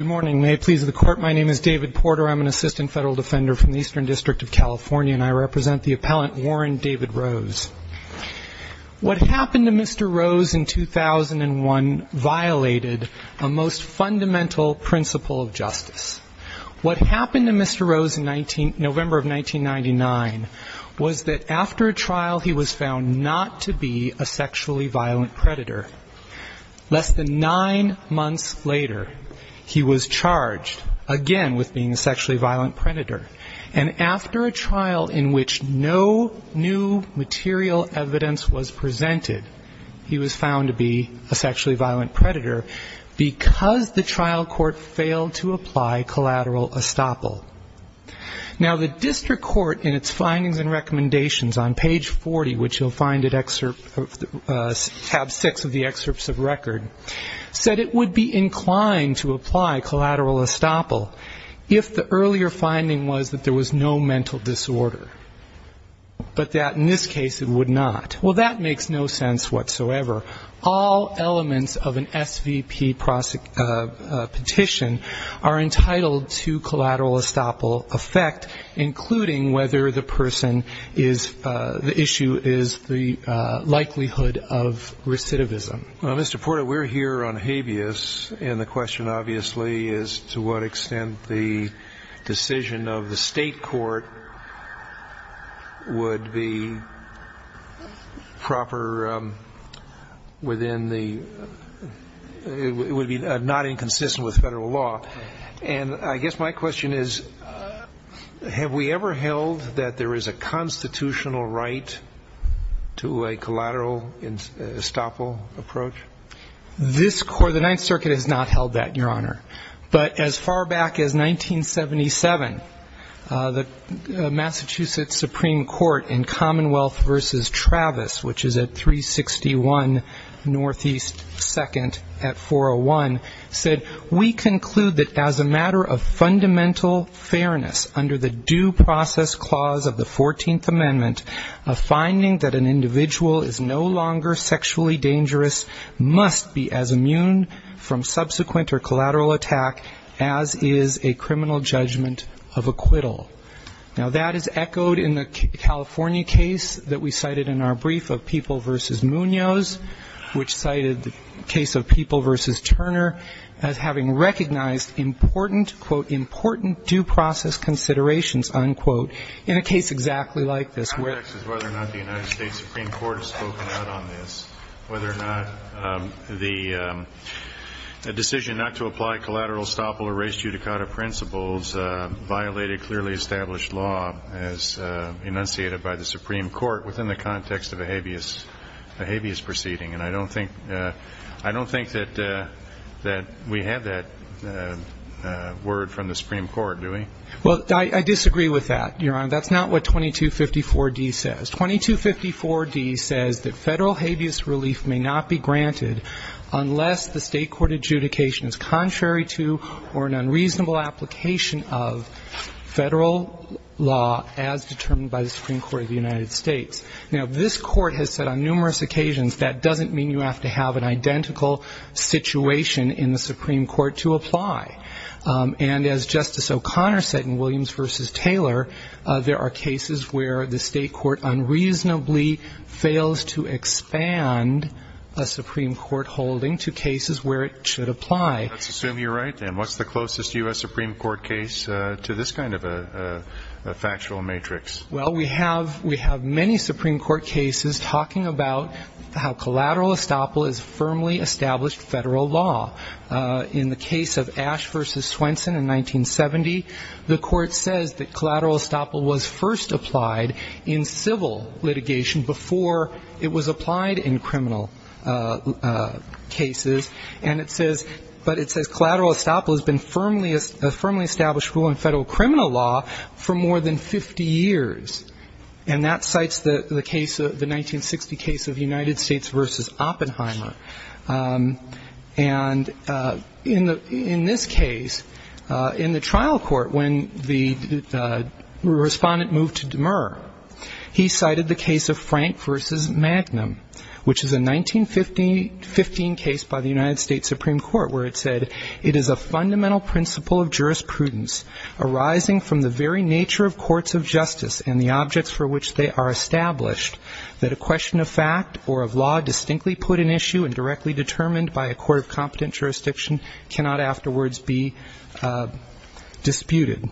Good morning. May it please the Court, my name is David Porter. I'm an Assistant Federal Defender from the Eastern District of California and I represent the Appellant Warren David Rose. What happened to Mr. Rose in 2001 violated a most fundamental principle of justice. What happened to Mr. Rose in November of 1999 was that after a trial he was found not to be a sexually violent predator. Less than nine months later he was charged again with being a sexually violent predator. And after a trial in which no new material evidence was presented, he was found to be a sexually violent predator because the trial court failed to apply collateral estoppel. Now, the district court in its findings and recommendations on page 40, which you'll find at tab six of the excerpts of record, said it would be inclined to apply collateral estoppel if the earlier finding was that there was no mental disorder, but that in this case it would not. Well, that makes no sense whatsoever. All elements of an SVP petition are entitled to collateral estoppel effect, including whether the person is, the issue is the likelihood of recidivism. Well, Mr. Porter, we're here on habeas and the question obviously is to what extent the decision of the state court would be proper within the, it would be not inconsistent with federal law. And I guess my question is, have we ever held that there is a constitutional right to a collateral estoppel approach? This court, the Ninth Circuit has not held that, Your Honor. But as far back as 1977, the Massachusetts Supreme Court in Commonwealth v. Travis, which is at 361 Northeast 2nd at 401, said, we conclude that as a matter of fundamental fairness under the due process clause of the 14th Amendment, a finding that an individual is no longer sexually dangerous must be as immune from subsequent or collateral attack as is a criminal judgment of acquittal. Now, that is echoed in the California case that we cited in our brief of People v. Munoz, which cited the case of People v. Turner as having recognized important, quote, important due process considerations, unquote, in a case exactly like this. My question is whether or not the United States Supreme Court has spoken out on this, whether or not the decision not to apply collateral estoppel or res judicata principles violated clearly established law as enunciated by the Supreme Court within the context of a habeas proceeding. And I don't think that we have that word from the Supreme Court, do we? Well, I disagree with that, Your Honor. That's not what 2254d says. 2254d says that Federal habeas relief may not be granted unless the State court adjudication is contrary to or an unreasonable application of Federal law as determined by the Supreme Court of the United States. Now, this court has said on numerous occasions that doesn't mean you have to have an identical situation in the Supreme Court to apply. And as Justice O'Connor said in Williams v. Taylor, there are cases where the State court unreasonably fails to expand a Supreme Court holding to cases where it should apply. Let's assume you're right, then. What's the closest U.S. Supreme Court case to this kind of a factual matrix? Well, we have many Supreme Court cases talking about how collateral estoppel is firmly established Federal law. In the case of Ash v. Swenson in 1970, the court says that collateral estoppel was first applied in civil litigation before it was applied in criminal cases. But it says collateral estoppel has been a firmly established rule in Federal criminal law for more than 50 years. And that cites the 1960 case of United States v. Oppenheimer. And in this case, in the trial court when the Respondent moved to Demur, he cited the case of Frank v. Magnum, which is a 1915 case by the United States Supreme Court where it said, it is a fundamental principle of jurisprudence arising from the very nature of courts of justice and the objects for which they are established, that a question of fact or of law distinctly put in issue and directly determined by a court of competent jurisdiction cannot afterwards be disputed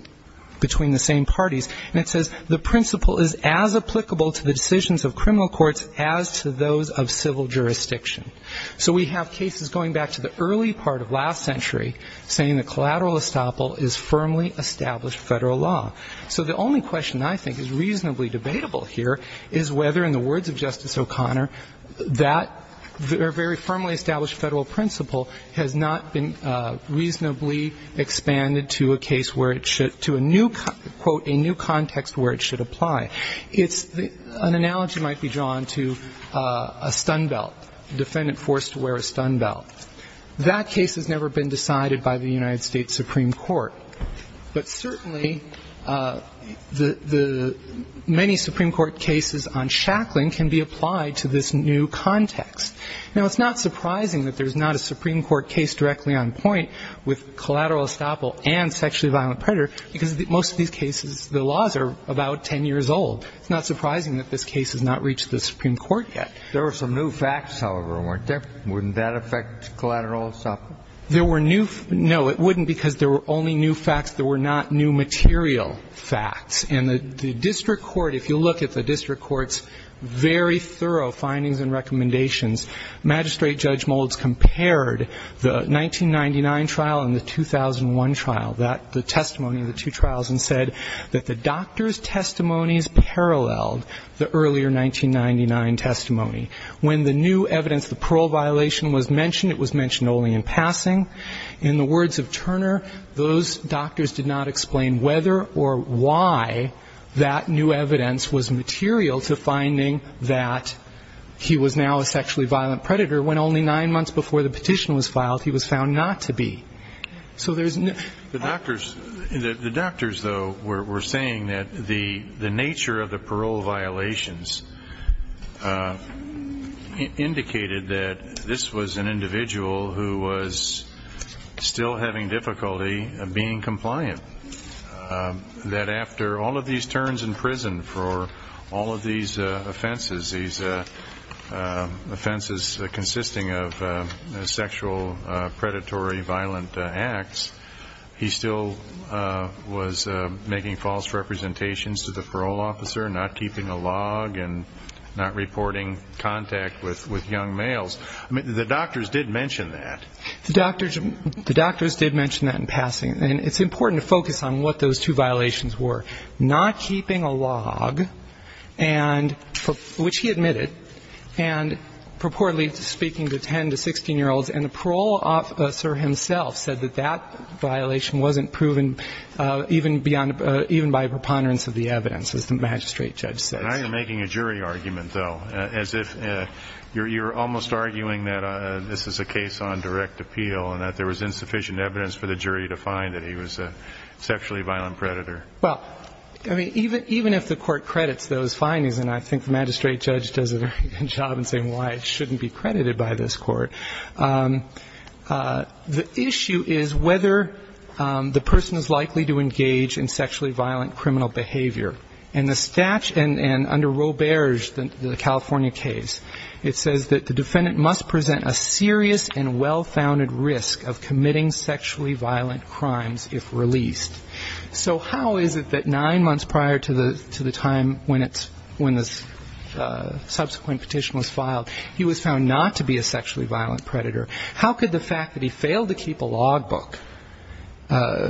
between the same parties. And it says the principle is as applicable to the decisions of criminal courts as to those of civil jurisdiction. So we have cases going back to the early part of last century saying that collateral estoppel is firmly established Federal law. So the only question I think is reasonably debatable here is whether, in the words of Justice O'Connor, that very firmly established Federal principle has not been reasonably expanded to a case where it should, to a new, quote, a new context where it should apply. An analogy might be drawn to a stun belt, defendant forced to wear a stun belt. That case has never been decided by the United States Supreme Court. But certainly, the many Supreme Court cases on shackling can be applied to this new context. Now, it's not surprising that there's not a Supreme Court case directly on point with collateral estoppel and sexually violent predator, because most of these cases, the laws are about 10 years old. It's not surprising that this case has not reached the Supreme Court yet. There were some new facts, however, weren't there? Wouldn't that affect collateral estoppel? No, it wouldn't, because there were only new facts. There were not new material facts. And the district court, if you look at the district court's very thorough findings and recommendations, Magistrate Judge Moulds compared the 1999 trial and the 2001 trial, the testimony of the two trials, and said that the doctor's testimonies paralleled the earlier 1999 testimony. When the new evidence, the parole violation, was mentioned, it was mentioned only in passing. In the words of Turner, those doctors did not explain whether or why that new evidence was material to finding that he was now a sexually violent predator, when only nine months before the petition was filed, he was found not to be. The doctors, though, were saying that the nature of the parole violations indicated that this was an individual who was still having difficulty being compliant. That after all of these turns in prison for all of these offenses, these offenses consisting of sexual predatory violent acts, he still was making false representations to the parole officer, not keeping a log and not reporting contact with young males. The doctors did mention that. The doctors did mention that in passing. And it's important to focus on what those two violations were. Not keeping a log, which he admitted, and purportedly speaking to 10 to 16-year-olds, and the parole officer himself said that that violation wasn't proven even by preponderance of the evidence, as the magistrate judge said. And I am making a jury argument, though, as if you're almost arguing that this is a case on direct appeal and that there was insufficient evidence for the jury to find that he was a sexually violent predator. Well, I mean, even if the court credits those findings, and I think the magistrate judge does a very good job in saying why it shouldn't be credited by this court, the issue is whether the person is likely to engage in sexually violent criminal behavior. And under Roberge, the California case, it says that the defendant must present a serious and well-founded risk of committing sexually violent crimes if released. So how is it that nine months prior to the time when the subsequent petition was filed, he was found not to be a sexually violent predator? How could the fact that he failed to keep a log book,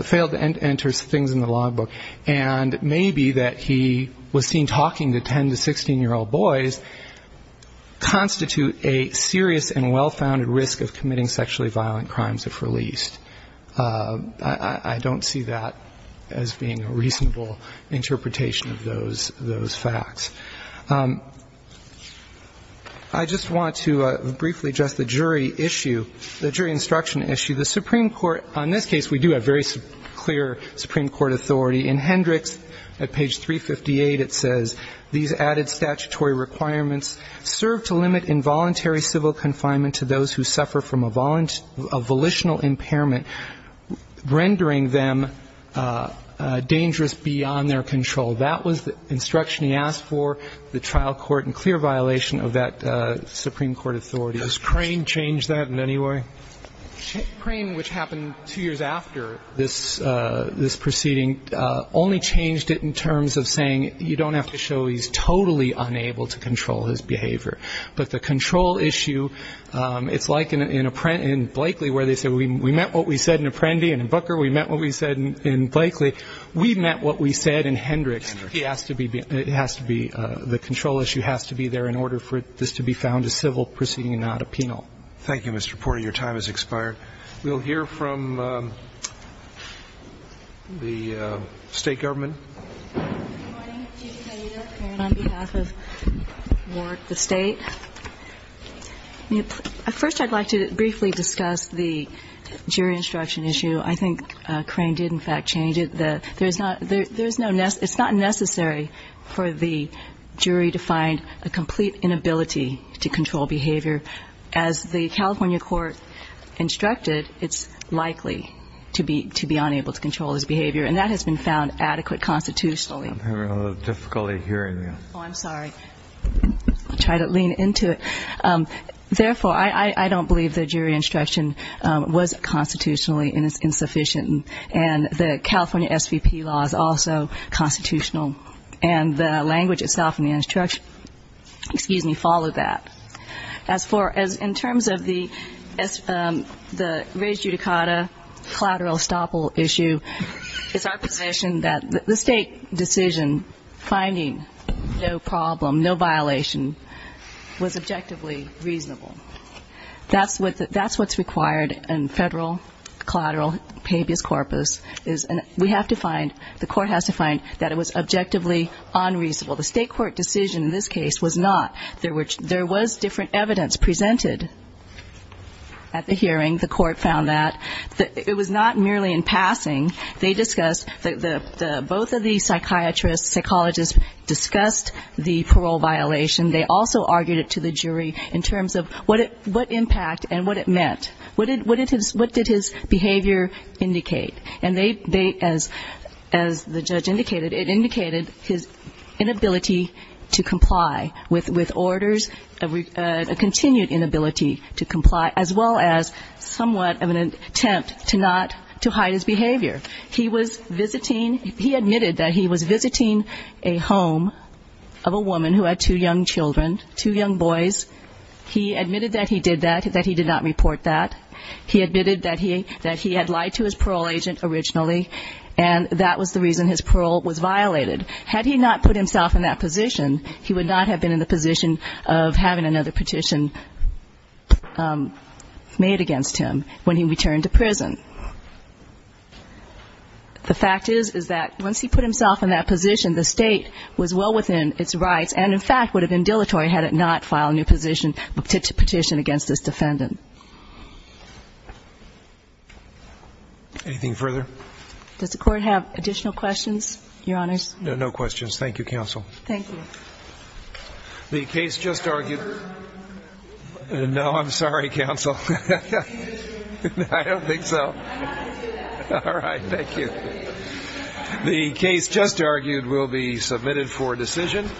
failed to enter things in the log book, and maybe that he was seen talking to 10 to 16-year-old boys constitute a serious and well-founded risk of committing sexually violent crimes if released? I don't see that as being a reasonable interpretation of those facts. I just want to briefly address the jury issue, the jury instruction issue. The Supreme Court, on this case, we do have very clear Supreme Court authority. In Hendricks, at page 358, it says, these added statutory requirements serve to limit involuntary civil confinement to those who suffer from a volitional impairment, rendering them dangerous beyond their control. That was the instruction he asked for, the trial court, in clear violation of that Supreme Court authority. Does Crane change that in any way? Crane, which happened two years after this proceeding, only changed it in terms of saying you don't have to show he's totally unable to control his behavior. But the control issue, it's like in Blakely where they said we met what we said in Apprendi, and in Booker we met what we said in Blakely. We met what we said in Hendricks. He has to be, it has to be, the control issue has to be there in order for this to be found a civil proceeding and not a penal. Thank you, Mr. Porter. Your time has expired. We'll hear from the State Government. Good morning, Chief Justice O'Neill. Karen on behalf of Ward, the State. First, I'd like to briefly discuss the jury instruction issue. I think Crane did, in fact, change it. There's not, there's no, it's not necessary for the jury to find a complete inability to control behavior. As the California court instructed, it's likely to be unable to control his behavior. And that has been found adequate constitutionally. I'm having a little difficulty hearing you. Oh, I'm sorry. I'll try to lean into it. Therefore, I don't believe the jury instruction was constitutionally insufficient. And the California SVP law is also constitutional. And the language itself in the instruction, excuse me, followed that. As for, in terms of the res judicata collateral estoppel issue, it's our position that the State decision, finding no problem, no violation, was objectively reasonable. That's what's required in federal collateral pebius corpus. We have to find, the court has to find that it was objectively unreasonable. The State court decision in this case was not. There was different evidence presented at the hearing. The court found that. It was not merely in passing. They discussed, both of the psychiatrists, psychologists discussed the parole violation. They also argued it to the jury in terms of what impact and what it meant. What did his behavior indicate? And they, as the judge indicated, it indicated his inability to comply with orders, a continued inability to comply, as well as somewhat of an attempt to not, to hide his behavior. He was visiting, he admitted that he was visiting a home of a woman who had two young children, two young boys. He admitted that he did that, that he did not report that. He admitted that he had lied to his parole agent originally, and that was the reason his parole was violated. Had he not put himself in that position, he would not have been in the position of having another petition made against him when he returned to prison. The fact is, is that once he put himself in that position, the State was well within its rights, and in fact would have been dilatory had it not filed a new petition against this defendant. Anything further? Does the Court have additional questions, Your Honors? No, no questions. Thank you, Counsel. Thank you. The case just argued will be submitted for decision.